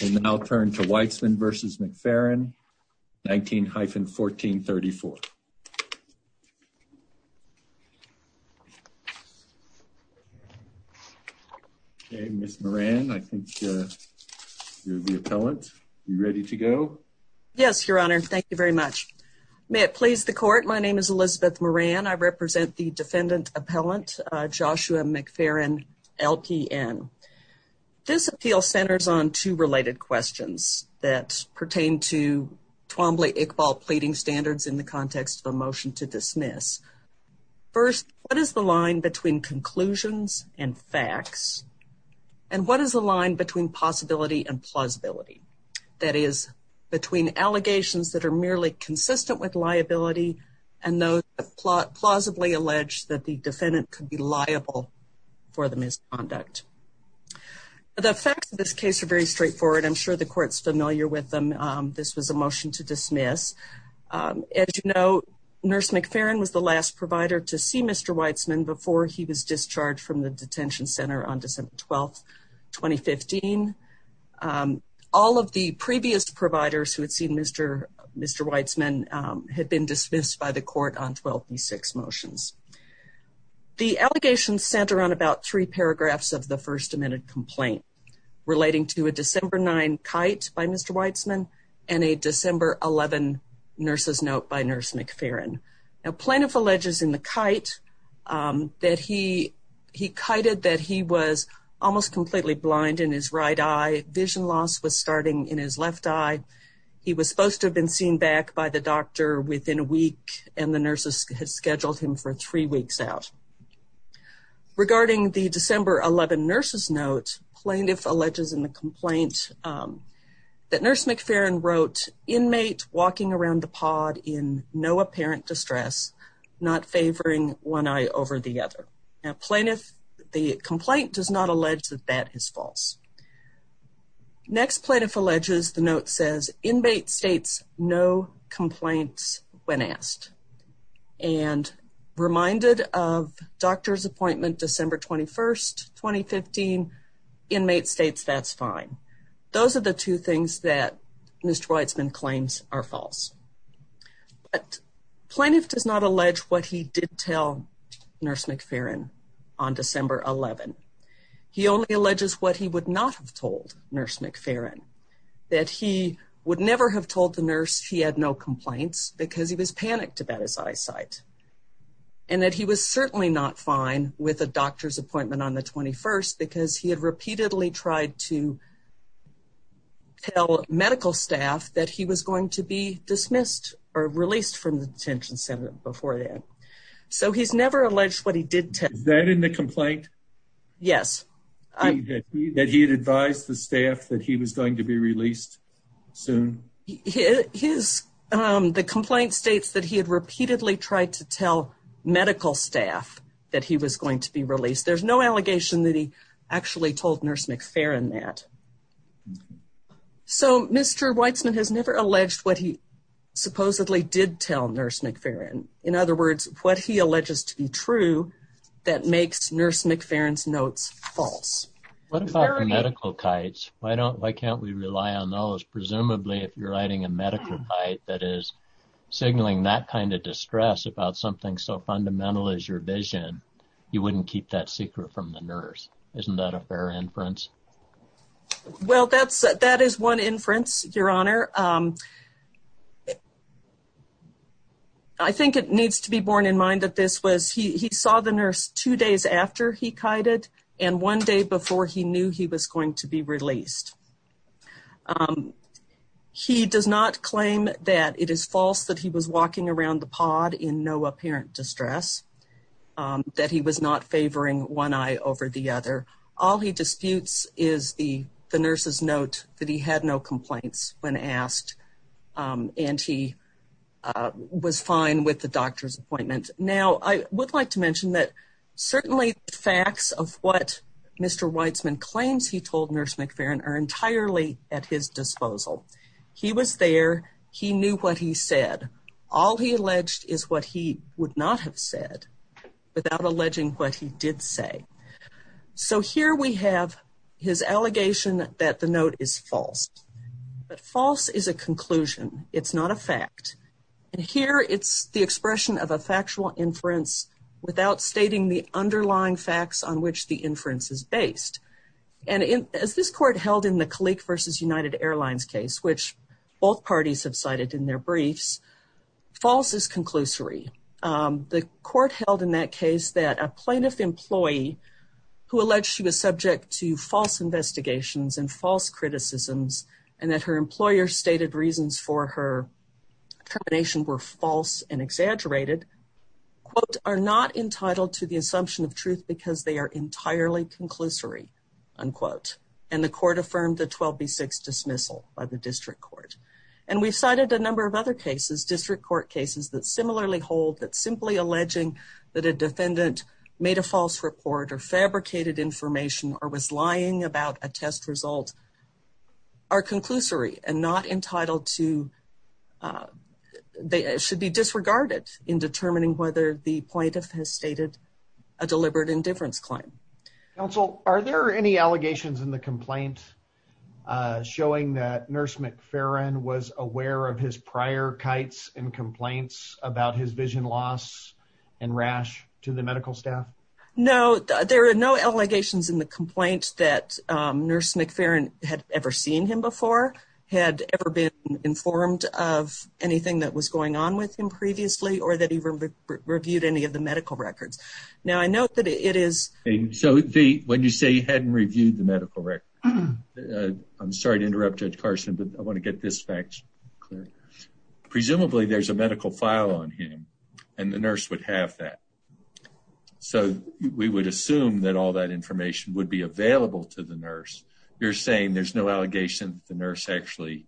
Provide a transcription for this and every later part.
We'll now turn to Weitzman v. McFerrin, 19-1434. Okay, Ms. Moran, I think you're the appellant, are you ready to go? Yes, Your Honor, thank you very much. May it please the Court, my name is Elizabeth Moran. I represent the defendant appellant, Joshua McFerrin, LPN. This appeal centers on two related questions that pertain to Twombly-Iqbal pleading standards in the context of a motion to dismiss. First, what is the line between conclusions and facts, and what is the line between possibility and plausibility? That is, between allegations that are merely consistent with liability and those that plausibly allege that the defendant could be liable for the misconduct. The facts of this case are very straightforward. I'm sure the Court's familiar with them. This was a motion to dismiss. As you know, Nurse McFerrin was the last provider to see Mr. Weitzman before he was discharged from the detention center on December 12, 2015. All of the previous providers who had seen Mr. Weitzman had been dismissed by the Court on 12B6 motions. The allegations center on about three paragraphs of the First Amendment complaint relating to a December 9 kite by Mr. Weitzman and a December 11 nurse's note by Nurse McFerrin. Plaintiff alleges in the kite that he kited that he was almost completely blind in his right eye. Vision loss was starting in his left eye. He was supposed to have been seen back by the doctor within a week, and the nurses had scheduled him for three weeks out. Regarding the December 11 nurse's note, plaintiff alleges in the complaint that Nurse McFerrin wrote, Inmate walking around the pod in no apparent distress, not favoring one eye over the other. Now, plaintiff, the complaint does not allege that that is false. Next, plaintiff alleges the note says, Inmate states no complaints when asked. And reminded of doctor's appointment December 21, 2015, Inmate states that's fine. Those are the two things that Mr. Weitzman claims are false. But plaintiff does not allege what he did tell Nurse McFerrin on December 11. He only alleges what he would not have told Nurse McFerrin, that he would never have told the nurse he had no complaints because he was panicked about his eyesight, and that he was certainly not fine with a doctor's appointment on the 21st because he had repeatedly tried to tell medical staff that he was going to be dismissed or released from the detention center before then. So he's never alleged what he did tell. Is that in the complaint? Yes. That he had advised the staff that he was going to be released soon? The complaint states that he had repeatedly tried to tell medical staff that he was going to be released. There's no allegation that he actually told Nurse McFerrin that. So Mr. Weitzman has never alleged what he supposedly did tell Nurse McFerrin. In other words, what he alleges to be true that makes Nurse McFerrin's notes false. What about medical kites? Why can't we rely on those? Presumably, if you're writing a medical kite that is signaling that kind of distress about something so fundamental as your vision, you wouldn't keep that secret from the nurse. Isn't that a fair inference? Well, that is one inference, Your Honor. I think it needs to be borne in mind that this was he saw the nurse two days after he kited and one day before he knew he was going to be released. He does not claim that it is false that he was walking around the pod in no apparent distress, that he was not favoring one eye over the other. All he disputes is the nurse's note that he had no complaints when asked and he was fine with the doctor's appointment. Now, I would like to mention that certainly the facts of what Mr. Weitzman claims he told Nurse McFerrin are entirely at his disposal. He was there. He knew what he said. All he alleged is what he would not have said without alleging what he did say. So here we have his allegation that the note is false. But false is a conclusion. It's not a fact. And here it's the expression of a factual inference without stating the underlying facts on which the inference is based. And as this court held in the Kalik v. United Airlines case, which both parties have cited in their briefs, false is conclusory. The court held in that case that a plaintiff employee who alleged she was subject to false investigations and false criticisms and that her employer stated reasons for her termination were false and exaggerated, quote, are not entitled to the assumption of truth because they are entirely conclusory, unquote. And the court affirmed the 12B6 dismissal by the district court. And we've cited a number of other cases, district court cases that similarly hold that simply alleging that a defendant made a false report or fabricated information or was lying about a test result are conclusory and not entitled to they should be disregarded in determining whether the plaintiff has stated a deliberate indifference claim. Counsel, are there any allegations in the complaint showing that Nurse McFerrin was aware of his prior kites and complaints about his vision loss and rash to the medical staff? No, there are no allegations in the complaint that Nurse McFerrin had ever seen him before, had ever been informed of anything that was going on with him previously, or that he reviewed any of the medical records. Now, I note that it is… So, when you say he hadn't reviewed the medical records, I'm sorry to interrupt Judge Carson, but I want to get this fact clear. Presumably, there's a medical file on him and the nurse would have that. So, we would assume that all that information would be available to the nurse. You're saying there's no allegation that the nurse actually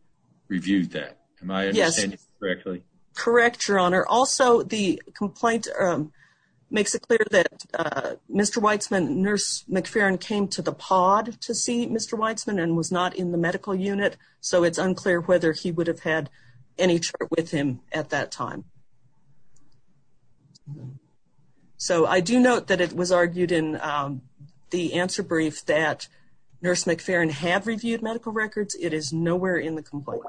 reviewed that. Am I understanding correctly? Correct, Your Honor. Also, the complaint makes it clear that Mr. Weitzman… Nurse McFerrin came to the pod to see Mr. Weitzman and was not in the medical unit, so it's unclear whether he would have had any chart with him at that time. So, I do note that it was argued in the answer brief that Nurse McFerrin had reviewed medical records. It is nowhere in the complaint.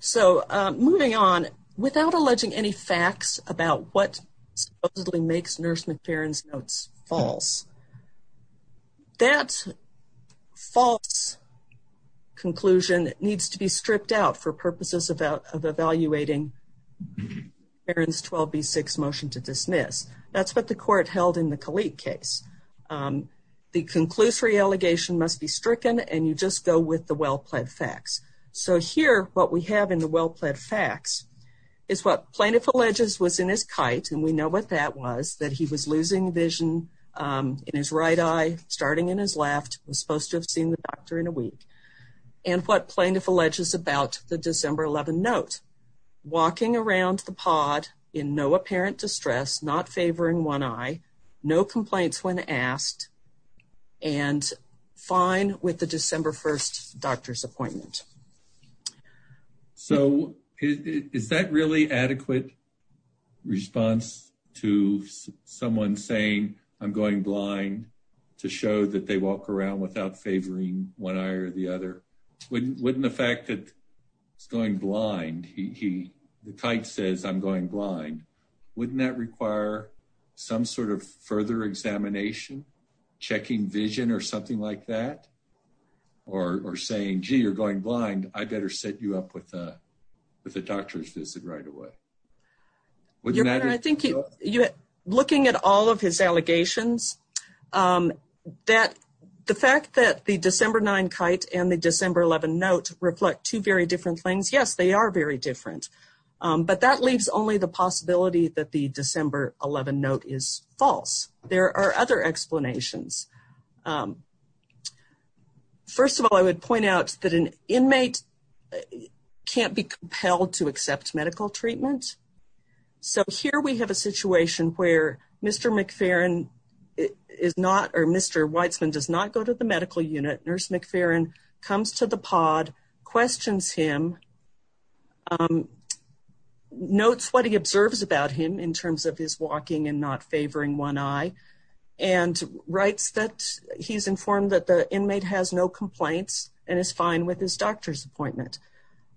So, moving on, without alleging any facts about what supposedly makes Nurse McFerrin's notes false, that false conclusion needs to be stripped out for purposes of evaluating McFerrin's 12B6 motion to dismiss. That's what the court held in the Kalik case. The conclusory allegation must be stricken and you just go with the well-plaid facts. So, here, what we have in the well-plaid facts is what plaintiff alleges was in his kite, and we know what that was, that he was losing vision in his right eye, starting in his left, was supposed to have seen the doctor in a week, and what plaintiff alleges about the December 11 note. Walking around the pod in no apparent distress, not favoring one eye, no complaints when asked, and fine with the December 1 doctor's appointment. So, is that really adequate response to someone saying, I'm going blind to show that they walk around without favoring one eye or the other? Wouldn't the fact that he's going blind, the kite says, I'm going blind, wouldn't that require some sort of further examination, checking vision or something like that? Or saying, gee, you're going blind, I better set you up with a doctor's visit right away. Your Honor, I think looking at all of his allegations, the fact that the December 9 kite and the December 11 note reflect two very different things, yes, they are very different, but that leaves only the possibility that the December 11 note is false. There are other explanations. First of all, I would point out that an inmate can't be compelled to accept medical treatment. So, here we have a situation where Mr. McFerrin is not, or Mr. Weitzman does not go to the medical unit, Nurse McFerrin comes to the pod, questions him, notes what he observes about him in terms of his walking and not favoring one eye, and writes that he's informed that the inmate has no complaints and is fine with his doctor's appointment.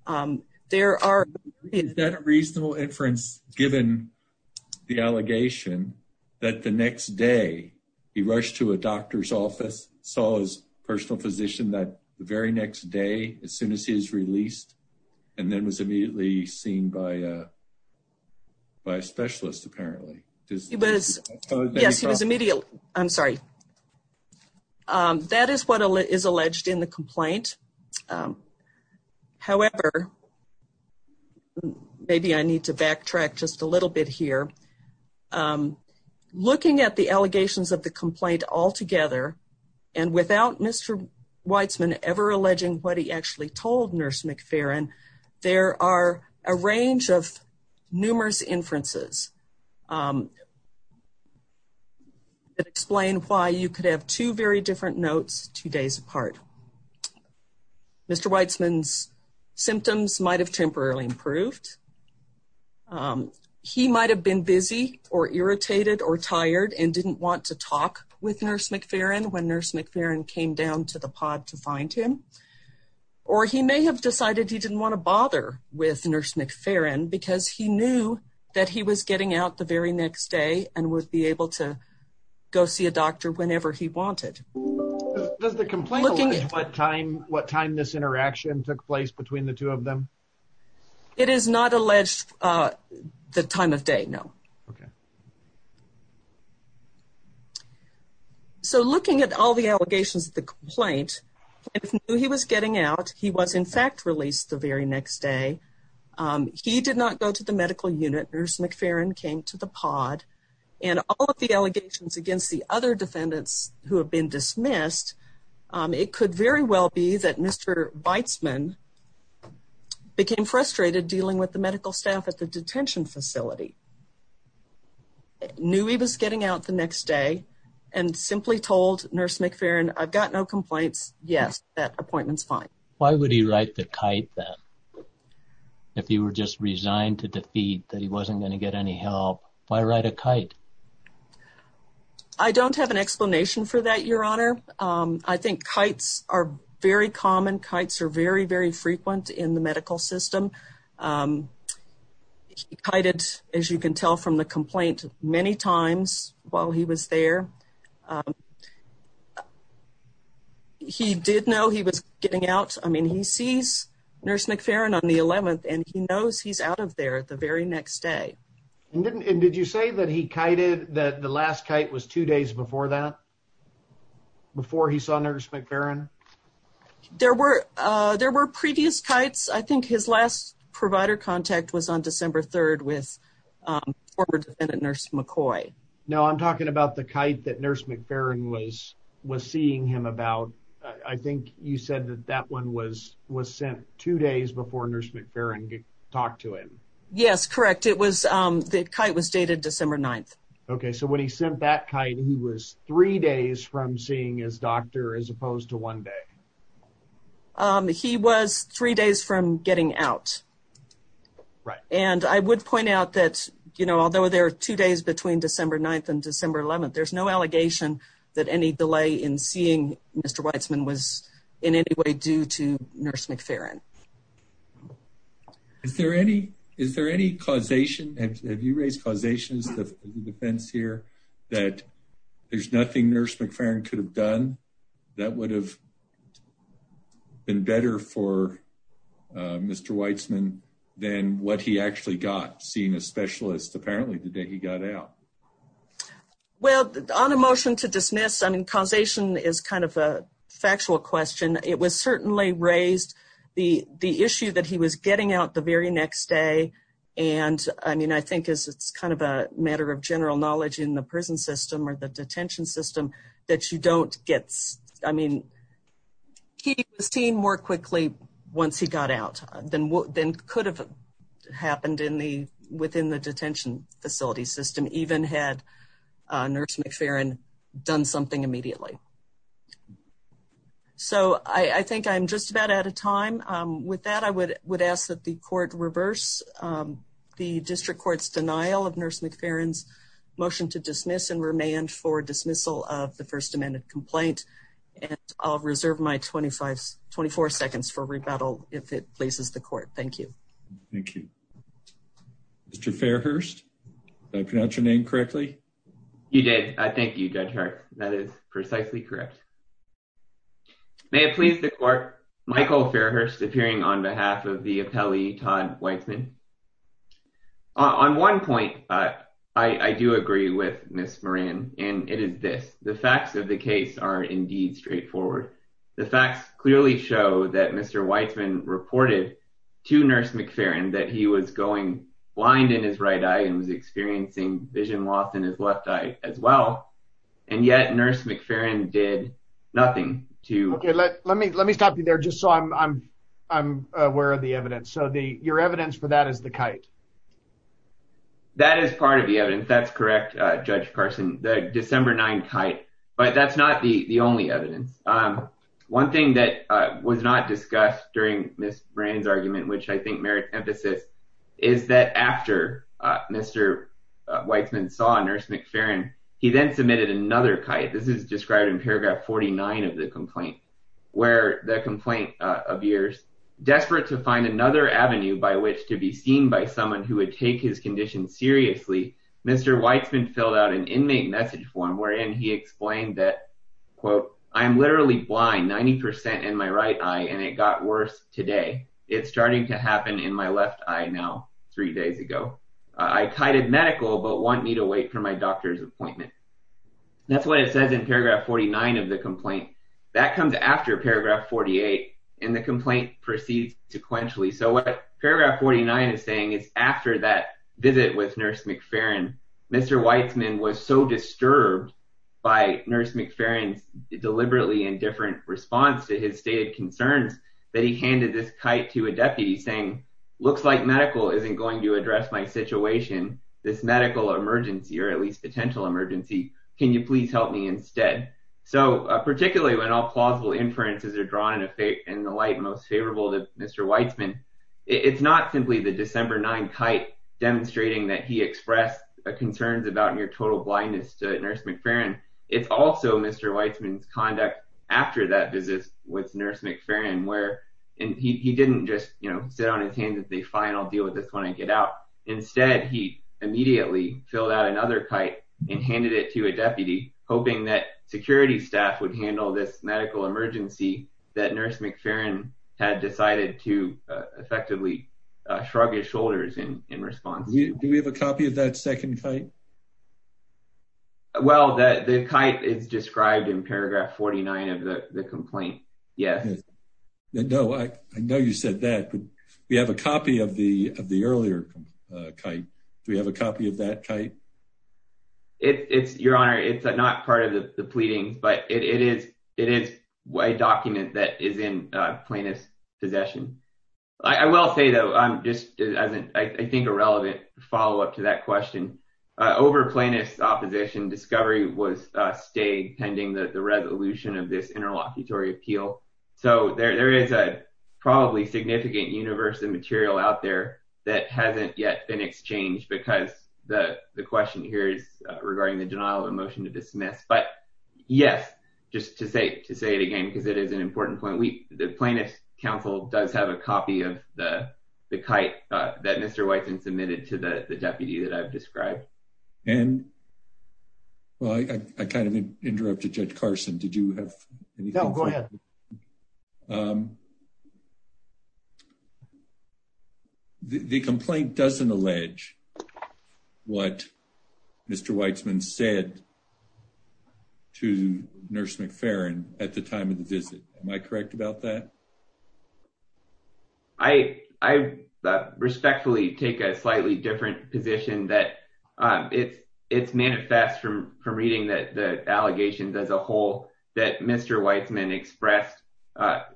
Is that a reasonable inference, given the allegation that the next day he rushed to a doctor's office, saw his personal physician that very next day, as soon as he was released, and then was immediately seen by a specialist, apparently? Yes, he was immediately, I'm sorry. That is what is alleged in the complaint. However, maybe I need to backtrack just a little bit here. Looking at the allegations of the complaint altogether, and without Mr. Weitzman ever alleging what he actually told Nurse McFerrin, there are a range of numerous inferences that explain why you could have two very different notes two days apart. Mr. Weitzman's symptoms might have temporarily improved. He might have been busy or irritated or tired and didn't want to talk with Nurse McFerrin when Nurse McFerrin came down to the pod to find him. Or he may have decided he didn't want to bother with Nurse McFerrin because he knew that he was getting out the very next day and would be able to go see a doctor whenever he wanted. Does the complaint allege what time this interaction took place between the two of them? It is not alleged the time of day, no. Okay. So looking at all the allegations of the complaint, he knew he was getting out, he was in fact released the very next day, he did not go to the medical unit, Nurse McFerrin came to the pod, and all of the allegations against the other defendants who have been dismissed, it could very well be that Mr. Weitzman became frustrated dealing with the medical staff at the detention facility, knew he was getting out the next day, and simply told Nurse McFerrin, I've got no complaints, yes, that appointment's fine. Why would he ride the kite then? If he were just resigned to defeat that he wasn't going to get any help, why ride a kite? I don't have an explanation for that, Your Honor. I think kites are very common, kites are very, very frequent in the medical system. He kited, as you can tell from the complaint, many times while he was there. He did know he was getting out. I mean, he sees Nurse McFerrin on the 11th, and he knows he's out of there the very next day. And did you say that he kited, that the last kite was two days before that? Before he saw Nurse McFerrin? There were previous kites. I think his last provider contact was on December 3rd with former defendant Nurse McCoy. No, I'm talking about the kite that Nurse McFerrin was seeing him about. I think you said that that one was sent two days before Nurse McFerrin talked to him. Yes, correct. The kite was dated December 9th. Okay, so when he sent that kite, he was three days from seeing his doctor as opposed to one day. He was three days from getting out. Right. And I would point out that, you know, although there are two days between December 9th and December 11th, there's no allegation that any delay in seeing Mr. Weitzman was in any way due to Nurse McFerrin. Is there any causation? Have you raised causation as a defense here that there's nothing Nurse McFerrin could have done that would have been better for Mr. Weitzman than what he actually got, seeing a specialist apparently the day he got out? Well, on a motion to dismiss, I mean, causation is kind of a factual question. It was certainly raised the issue that he was getting out the very next day. And, I mean, I think it's kind of a matter of general knowledge in the prison system or the detention system that you don't get, I mean, he was seen more quickly once he got out than could have happened within the detention facility system, even had Nurse McFerrin done something immediately. So I think I'm just about out of time. With that, I would ask that the court reverse the district court's denial of Nurse McFerrin's motion to dismiss and remand for dismissal of the first amended complaint. And I'll reserve my 24 seconds for rebuttal if it pleases the court. Thank you. Thank you. Mr. Fairhurst, did I pronounce your name correctly? You did. Thank you, Judge Hart. That is precisely correct. May it please the court, Michael Fairhurst appearing on behalf of the appellee, Todd Weitzman. On one point, I do agree with Ms. Moran, and it is this. The facts of the case are indeed straightforward. The facts clearly show that Mr. Weitzman reported to Nurse McFerrin that he was going blind in his right eye and was experiencing vision loss in his left eye as well. And yet Nurse McFerrin did nothing to— Okay, let me stop you there just so I'm aware of the evidence. So your evidence for that is the kite. That is part of the evidence. That's correct, Judge Carson, the December 9 kite. But that's not the only evidence. One thing that was not discussed during Ms. Moran's argument, which I think merits emphasis, is that after Mr. Weitzman saw Nurse McFerrin, he then submitted another kite. This is described in paragraph 49 of the complaint, where the complaint of yours, desperate to find another avenue by which to be seen by someone who would take his condition seriously, Mr. Weitzman filled out an inmate message form wherein he explained that, quote, I am literally blind, 90% in my right eye, and it got worse today. It's starting to happen in my left eye now, three days ago. I kited medical but want me to wait for my doctor's appointment. That's what it says in paragraph 49 of the complaint. That comes after paragraph 48, and the complaint proceeds sequentially. So what paragraph 49 is saying is after that visit with Nurse McFerrin, Mr. Weitzman was so disturbed by Nurse McFerrin's deliberately indifferent response to his stated concerns that he handed this kite to a deputy saying, looks like medical isn't going to address my situation, this medical emergency, or at least potential emergency. Can you please help me instead? So particularly when all plausible inferences are drawn in the light most favorable to Mr. Weitzman, it's not simply the December 9 kite demonstrating that he expressed concerns about near total blindness to Nurse McFerrin. It's also Mr. Weitzman's conduct after that visit with Nurse McFerrin where he didn't just, you know, sit on his hands and say, fine, I'll deal with this when I get out. Instead, he immediately filled out another kite and handed it to a deputy, hoping that security staff would handle this medical emergency that Nurse McFerrin had decided to effectively shrug his shoulders in response. Do we have a copy of that second kite? Well, the kite is described in paragraph 49 of the complaint. Yes. No, I know you said that, but we have a copy of the earlier kite. Do we have a copy of that kite? Your Honor, it's not part of the pleading, but it is a document that is in plaintiff's possession. I will say, though, just as I think a relevant follow up to that question, over plaintiff's opposition, discovery was stayed pending the resolution of this interlocutory appeal. So there is a probably significant universe of material out there that hasn't yet been exchanged because the question here is regarding the denial of a motion to dismiss. But yes, just to say to say it again, because it is an important point. The plaintiff's counsel does have a copy of the kite that Mr. Weitzman submitted to the deputy that I've described. And. Well, I kind of interrupted Judge Carson. Did you have anything? Go ahead. The complaint doesn't allege what Mr. Weitzman said to nurse McFerrin at the time of the visit. Am I correct about that? I, I respectfully take a slightly different position that it's it's manifest from from reading that the allegations as a whole that Mr. Weitzman expressed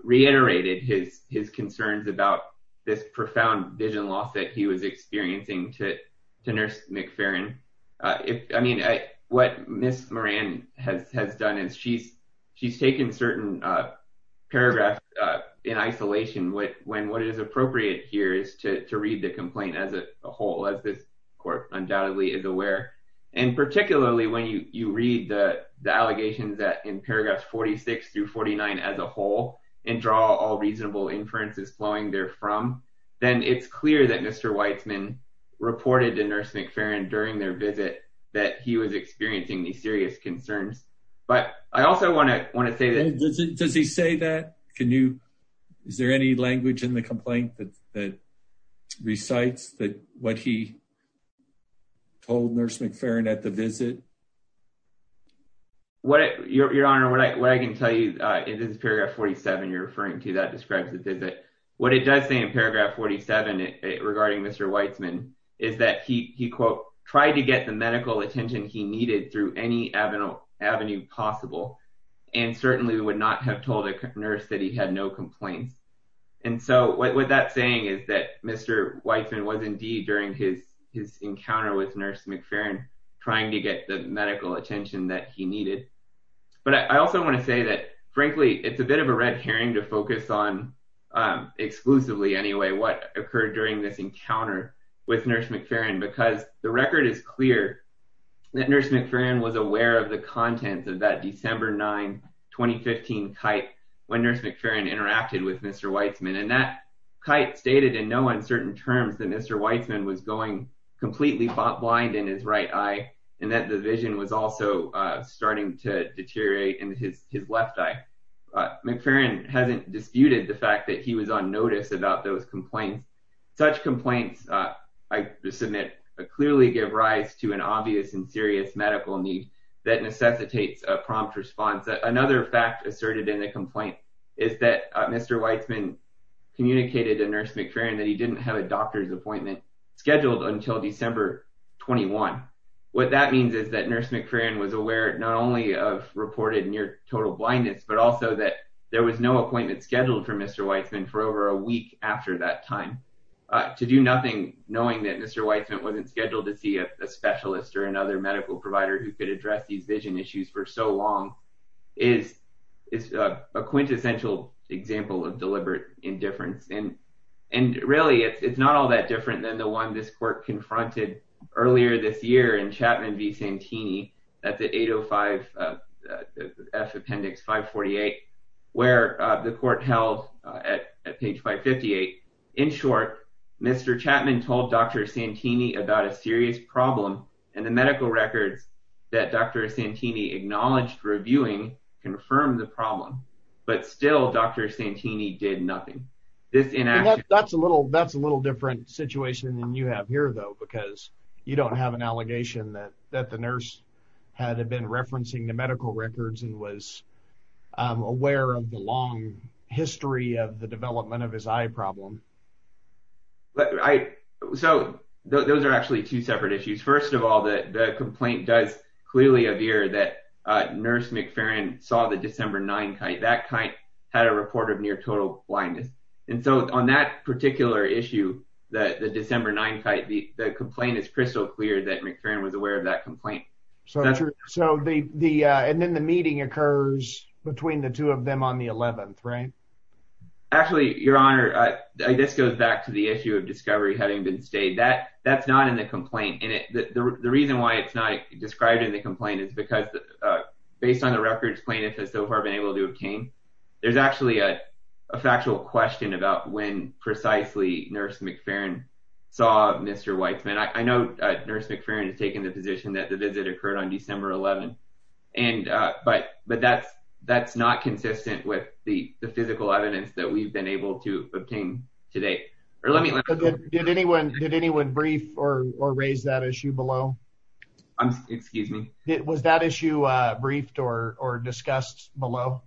reiterated his his concerns about this profound vision loss that he was experiencing to nurse McFerrin. I mean, what Miss Moran has has done is she's she's taken certain paragraphs in isolation. What when what is appropriate here is to read the complaint as a whole, as this court undoubtedly is aware. And particularly when you read the allegations that in paragraphs 46 through 49 as a whole and draw all reasonable inferences flowing there from, then it's clear that Mr. Weitzman reported to nurse McFerrin during their visit that he was experiencing these serious concerns. But I also want to want to say this. Does he say that? Can you. Is there any language in the complaint that recites that what he told nurse McFerrin at the visit? What your honor, what I can tell you is this period of 47 you're referring to that describes the visit. What it does say in paragraph 47 regarding Mr. Weitzman is that he he, quote, tried to get the medical attention he needed through any avenue avenue possible. And certainly would not have told a nurse that he had no complaints. And so what that's saying is that Mr. Weitzman was indeed during his his encounter with nurse McFerrin trying to get the medical attention that he needed. But I also want to say that, frankly, it's a bit of a red herring to focus on exclusively anyway, what occurred during this encounter with nurse McFerrin, because the record is clear that nurse McFerrin was aware of the contents of that December 9 2015 kite when nurse McFerrin interacted with Mr. Weitzman. And that kite stated in no uncertain terms that Mr. Weitzman was going completely blind in his right eye and that the vision was also starting to deteriorate in his left eye. McFerrin hasn't disputed the fact that he was on notice about those complaints. Such complaints, I submit, clearly give rise to an obvious and serious medical need that necessitates a prompt response. Another fact asserted in the complaint is that Mr. Weitzman communicated to nurse McFerrin that he didn't have a doctor's appointment scheduled until December 21. What that means is that nurse McFerrin was aware not only of reported near total blindness, but also that there was no appointment scheduled for Mr. Weitzman for over a week after that time. To do nothing, knowing that Mr. Weitzman wasn't scheduled to see a specialist or another medical provider who could address these vision issues for so long is a quintessential example of deliberate indifference. And really, it's not all that different than the one this court confronted earlier this year in Chapman v. Santini at the 805 F Appendix 548 where the court held at page 558. In short, Mr. Chapman told Dr. Santini about a serious problem and the medical records that Dr. Santini acknowledged reviewing confirmed the problem. But still, Dr. Santini did nothing. That's a little different situation than you have here, though, because you don't have an allegation that the nurse had been referencing the medical records and was aware of the long history of the development of his eye problem. So those are actually two separate issues. First of all, the complaint does clearly appear that nurse McFerrin saw the December 9 kite. That kite had a report of near total blindness. And so on that particular issue, the December 9 kite, the complaint is crystal clear that McFerrin was aware of that complaint. And then the meeting occurs between the two of them on the 11th, right? Actually, Your Honor, this goes back to the issue of discovery having been stayed that that's not in the complaint. And the reason why it's not described in the complaint is because based on the records plaintiff has so far been able to obtain. There's actually a factual question about when precisely nurse McFerrin saw Mr. Weitzman. I know nurse McFerrin has taken the position that the visit occurred on December 11. And but but that's that's not consistent with the physical evidence that we've been able to obtain today. Or let me did anyone did anyone brief or raise that issue below? I'm excuse me. It was that issue briefed or discussed below.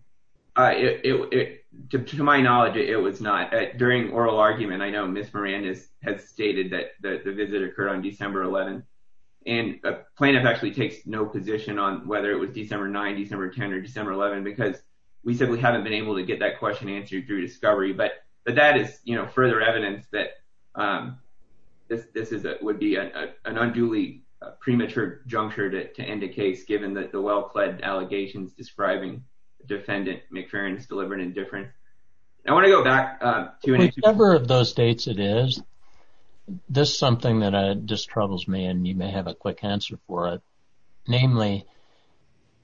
To my knowledge, it was not during oral argument. I know Miss Miranda has stated that the visit occurred on December 11. And a plaintiff actually takes no position on whether it was December 9, December 10 or December 11, because we simply haven't been able to get that question answered through discovery. But that is, you know, further evidence that this is it would be an unduly premature juncture to end a case. Given that the well-fledged allegations describing defendant McFerrin is deliberate and different. I want to go back to whatever of those dates it is. This is something that just troubles me and you may have a quick answer for it.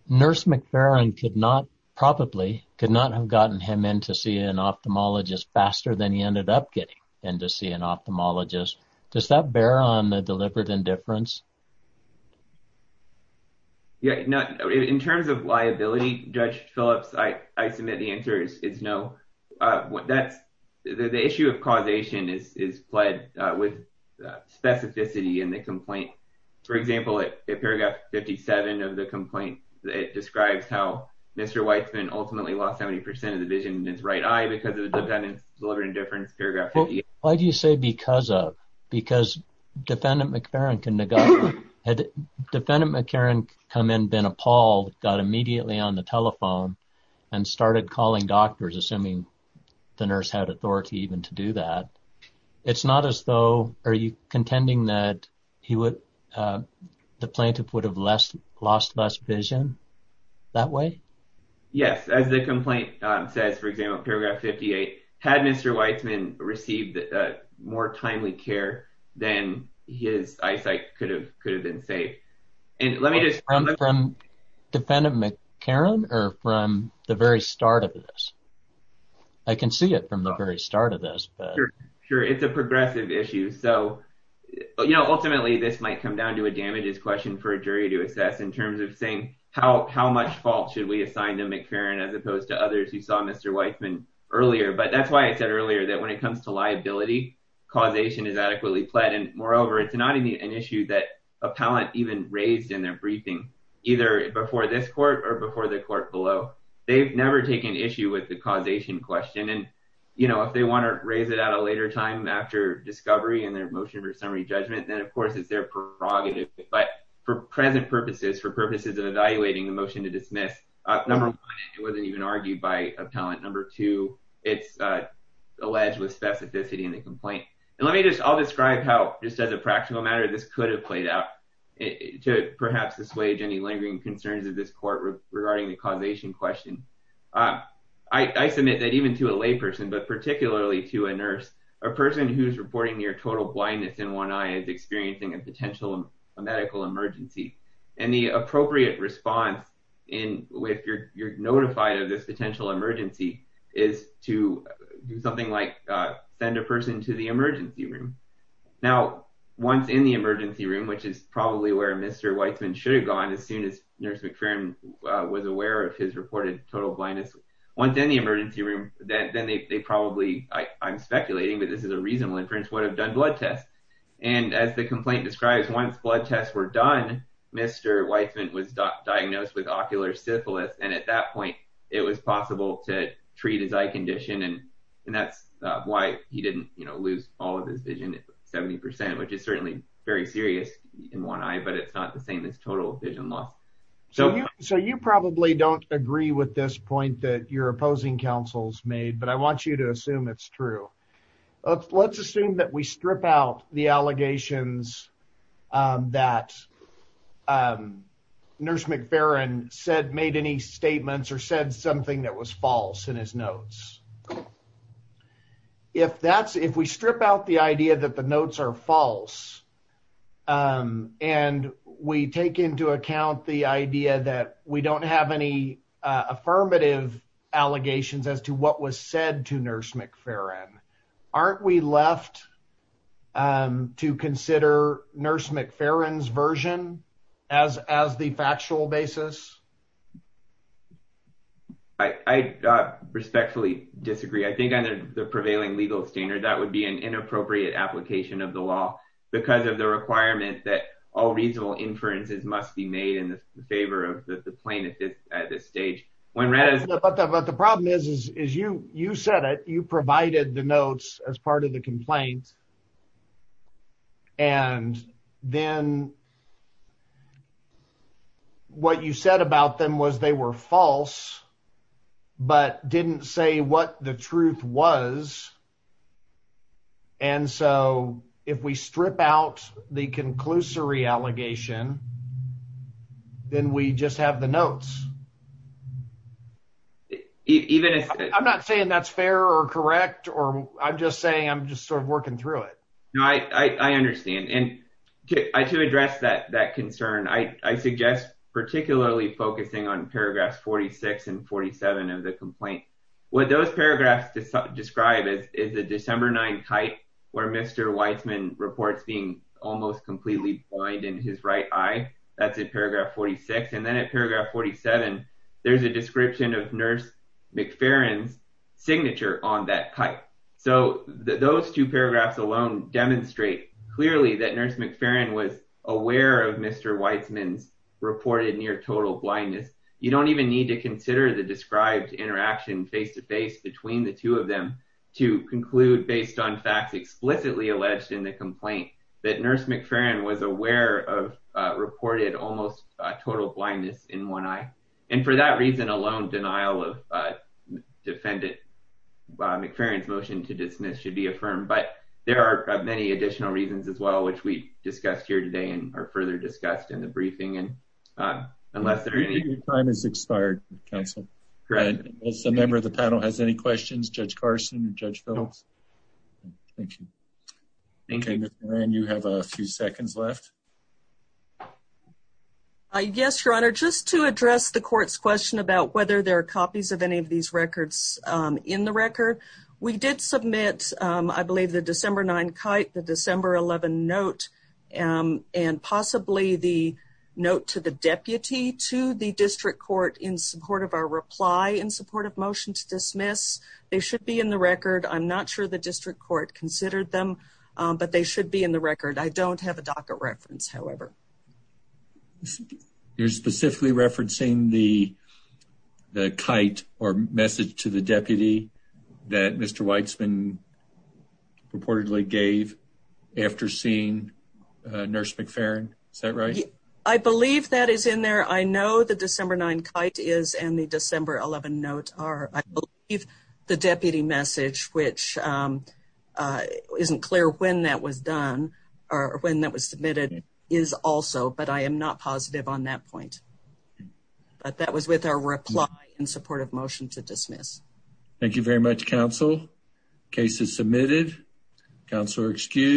Nurse McFerrin could not probably could not have gotten him in to see an ophthalmologist faster than he ended up getting and to see an ophthalmologist. Does that bear on the deliberate indifference? Yeah. In terms of liability, Judge Phillips, I submit the answer is no. That's the issue of causation is is played with specificity in the complaint. For example, in paragraph 57 of the complaint, it describes how Mr. Weitzman ultimately lost 70 percent of the vision in his right eye because of the dependent's deliberate indifference. Why do you say because of? Because defendant McFerrin can negotiate. Had defendant McFerrin come in, been appalled, got immediately on the telephone and started calling doctors, assuming the nurse had authority even to do that. It's not as though. Are you contending that he would the plaintiff would have less lost less vision that way? Yes. As the complaint says, for example, paragraph 58 had Mr. Weitzman received more timely care than his eyesight could have could have been saved. And let me just from defendant McFerrin or from the very start of this. I can see it from the very start of this. Sure. It's a progressive issue. So, you know, ultimately, this might come down to a damages question for a jury to assess in terms of saying how how much fault should we assign to McFerrin as opposed to others? You saw Mr. Weitzman earlier. But that's why I said earlier that when it comes to liability, causation is adequately pled. And moreover, it's not an issue that appellant even raised in their briefing, either before this court or before the court below. They've never taken issue with the causation question. And, you know, if they want to raise it at a later time after discovery and their motion for summary judgment, then, of course, it's their prerogative. But for present purposes, for purposes of evaluating the motion to dismiss. Number one, it wasn't even argued by appellant. Number two, it's alleged with specificity in the complaint. And let me just I'll describe how just as a practical matter, this could have played out to perhaps assuage any lingering concerns of this court regarding the causation question. I submit that even to a layperson, but particularly to a nurse, a person who's reporting near total blindness in one eye is experiencing a potential medical emergency. And the appropriate response in which you're notified of this potential emergency is to do something like send a person to the emergency room. Now, once in the emergency room, which is probably where Mr. Weitzman should have gone as soon as nurse McPheron was aware of his reported total blindness. Once in the emergency room, then they probably I'm speculating, but this is a reasonable inference, would have done blood tests. And as the complaint describes, once blood tests were done, Mr. Weitzman was diagnosed with ocular syphilis. And at that point, it was possible to treat his eye condition. And that's why he didn't lose all of his vision. It's 70 percent, which is certainly very serious in one eye, but it's not the same as total vision loss. So so you probably don't agree with this point that you're opposing counsels made, but I want you to assume it's true. Let's assume that we strip out the allegations that nurse McPheron said made any statements or said something that was false in his notes. If that's if we strip out the idea that the notes are false and we take into account the idea that we don't have any affirmative allegations as to what was said to nurse McPheron, aren't we left to consider nurse McPheron's version as as the factual basis? I respectfully disagree, I think, under the prevailing legal standard, that would be an inappropriate application of the law because of the requirement that all reasonable inferences must be made in favor of the plaintiff at this stage. But the problem is, is you you said it, you provided the notes as part of the complaint. And then. What you said about them was they were false, but didn't say what the truth was. And so if we strip out the conclusory allegation. Then we just have the notes. Even if I'm not saying that's fair or correct, or I'm just saying I'm just sort of working through it. I understand and I to address that that concern, I suggest, particularly focusing on paragraphs 46 and 47 of the complaint. What those paragraphs describe is the December 9 kite where Mr. Weitzman reports being almost completely blind in his right eye. That's a paragraph 46 and then at paragraph 47. There's a description of Nurse McPheron's signature on that kite. So those two paragraphs alone demonstrate clearly that Nurse McPheron was aware of Mr. Weitzman's reported near total blindness. You don't even need to consider the described interaction face to face between the two of them to conclude based on facts explicitly alleged in the complaint that Nurse McPheron was aware of reported almost total blindness in one eye. And for that reason alone, denial of defendant McPheron's motion to dismiss should be affirmed. But there are many additional reasons as well, which we discussed here today and are further discussed in the briefing. And unless the time is expired. Council member of the panel has any questions. Judge Carson and Judge Phillips. Thank you. And you have a few seconds left. Yes, Your Honor. Just to address the court's question about whether there are copies of any of these records in the record. We did submit, I believe, the December 9 kite, the December 11 note, and possibly the note to the deputy to the district court in support of our reply in support of motion to dismiss. They should be in the record. I'm not sure the district court considered them, but they should be in the record. I don't have a docket reference, however. You're specifically referencing the kite or message to the deputy that Mr. Weitzman reportedly gave after seeing Nurse McPheron. Is that right? I believe that is in there. I know the December 9 kite is and the December 11 note are. I believe the deputy message, which isn't clear when that was done or when that was submitted, is also. But I am not positive on that point. But that was with our reply in support of motion to dismiss. Thank you very much, counsel. Case is submitted. Counselor excused.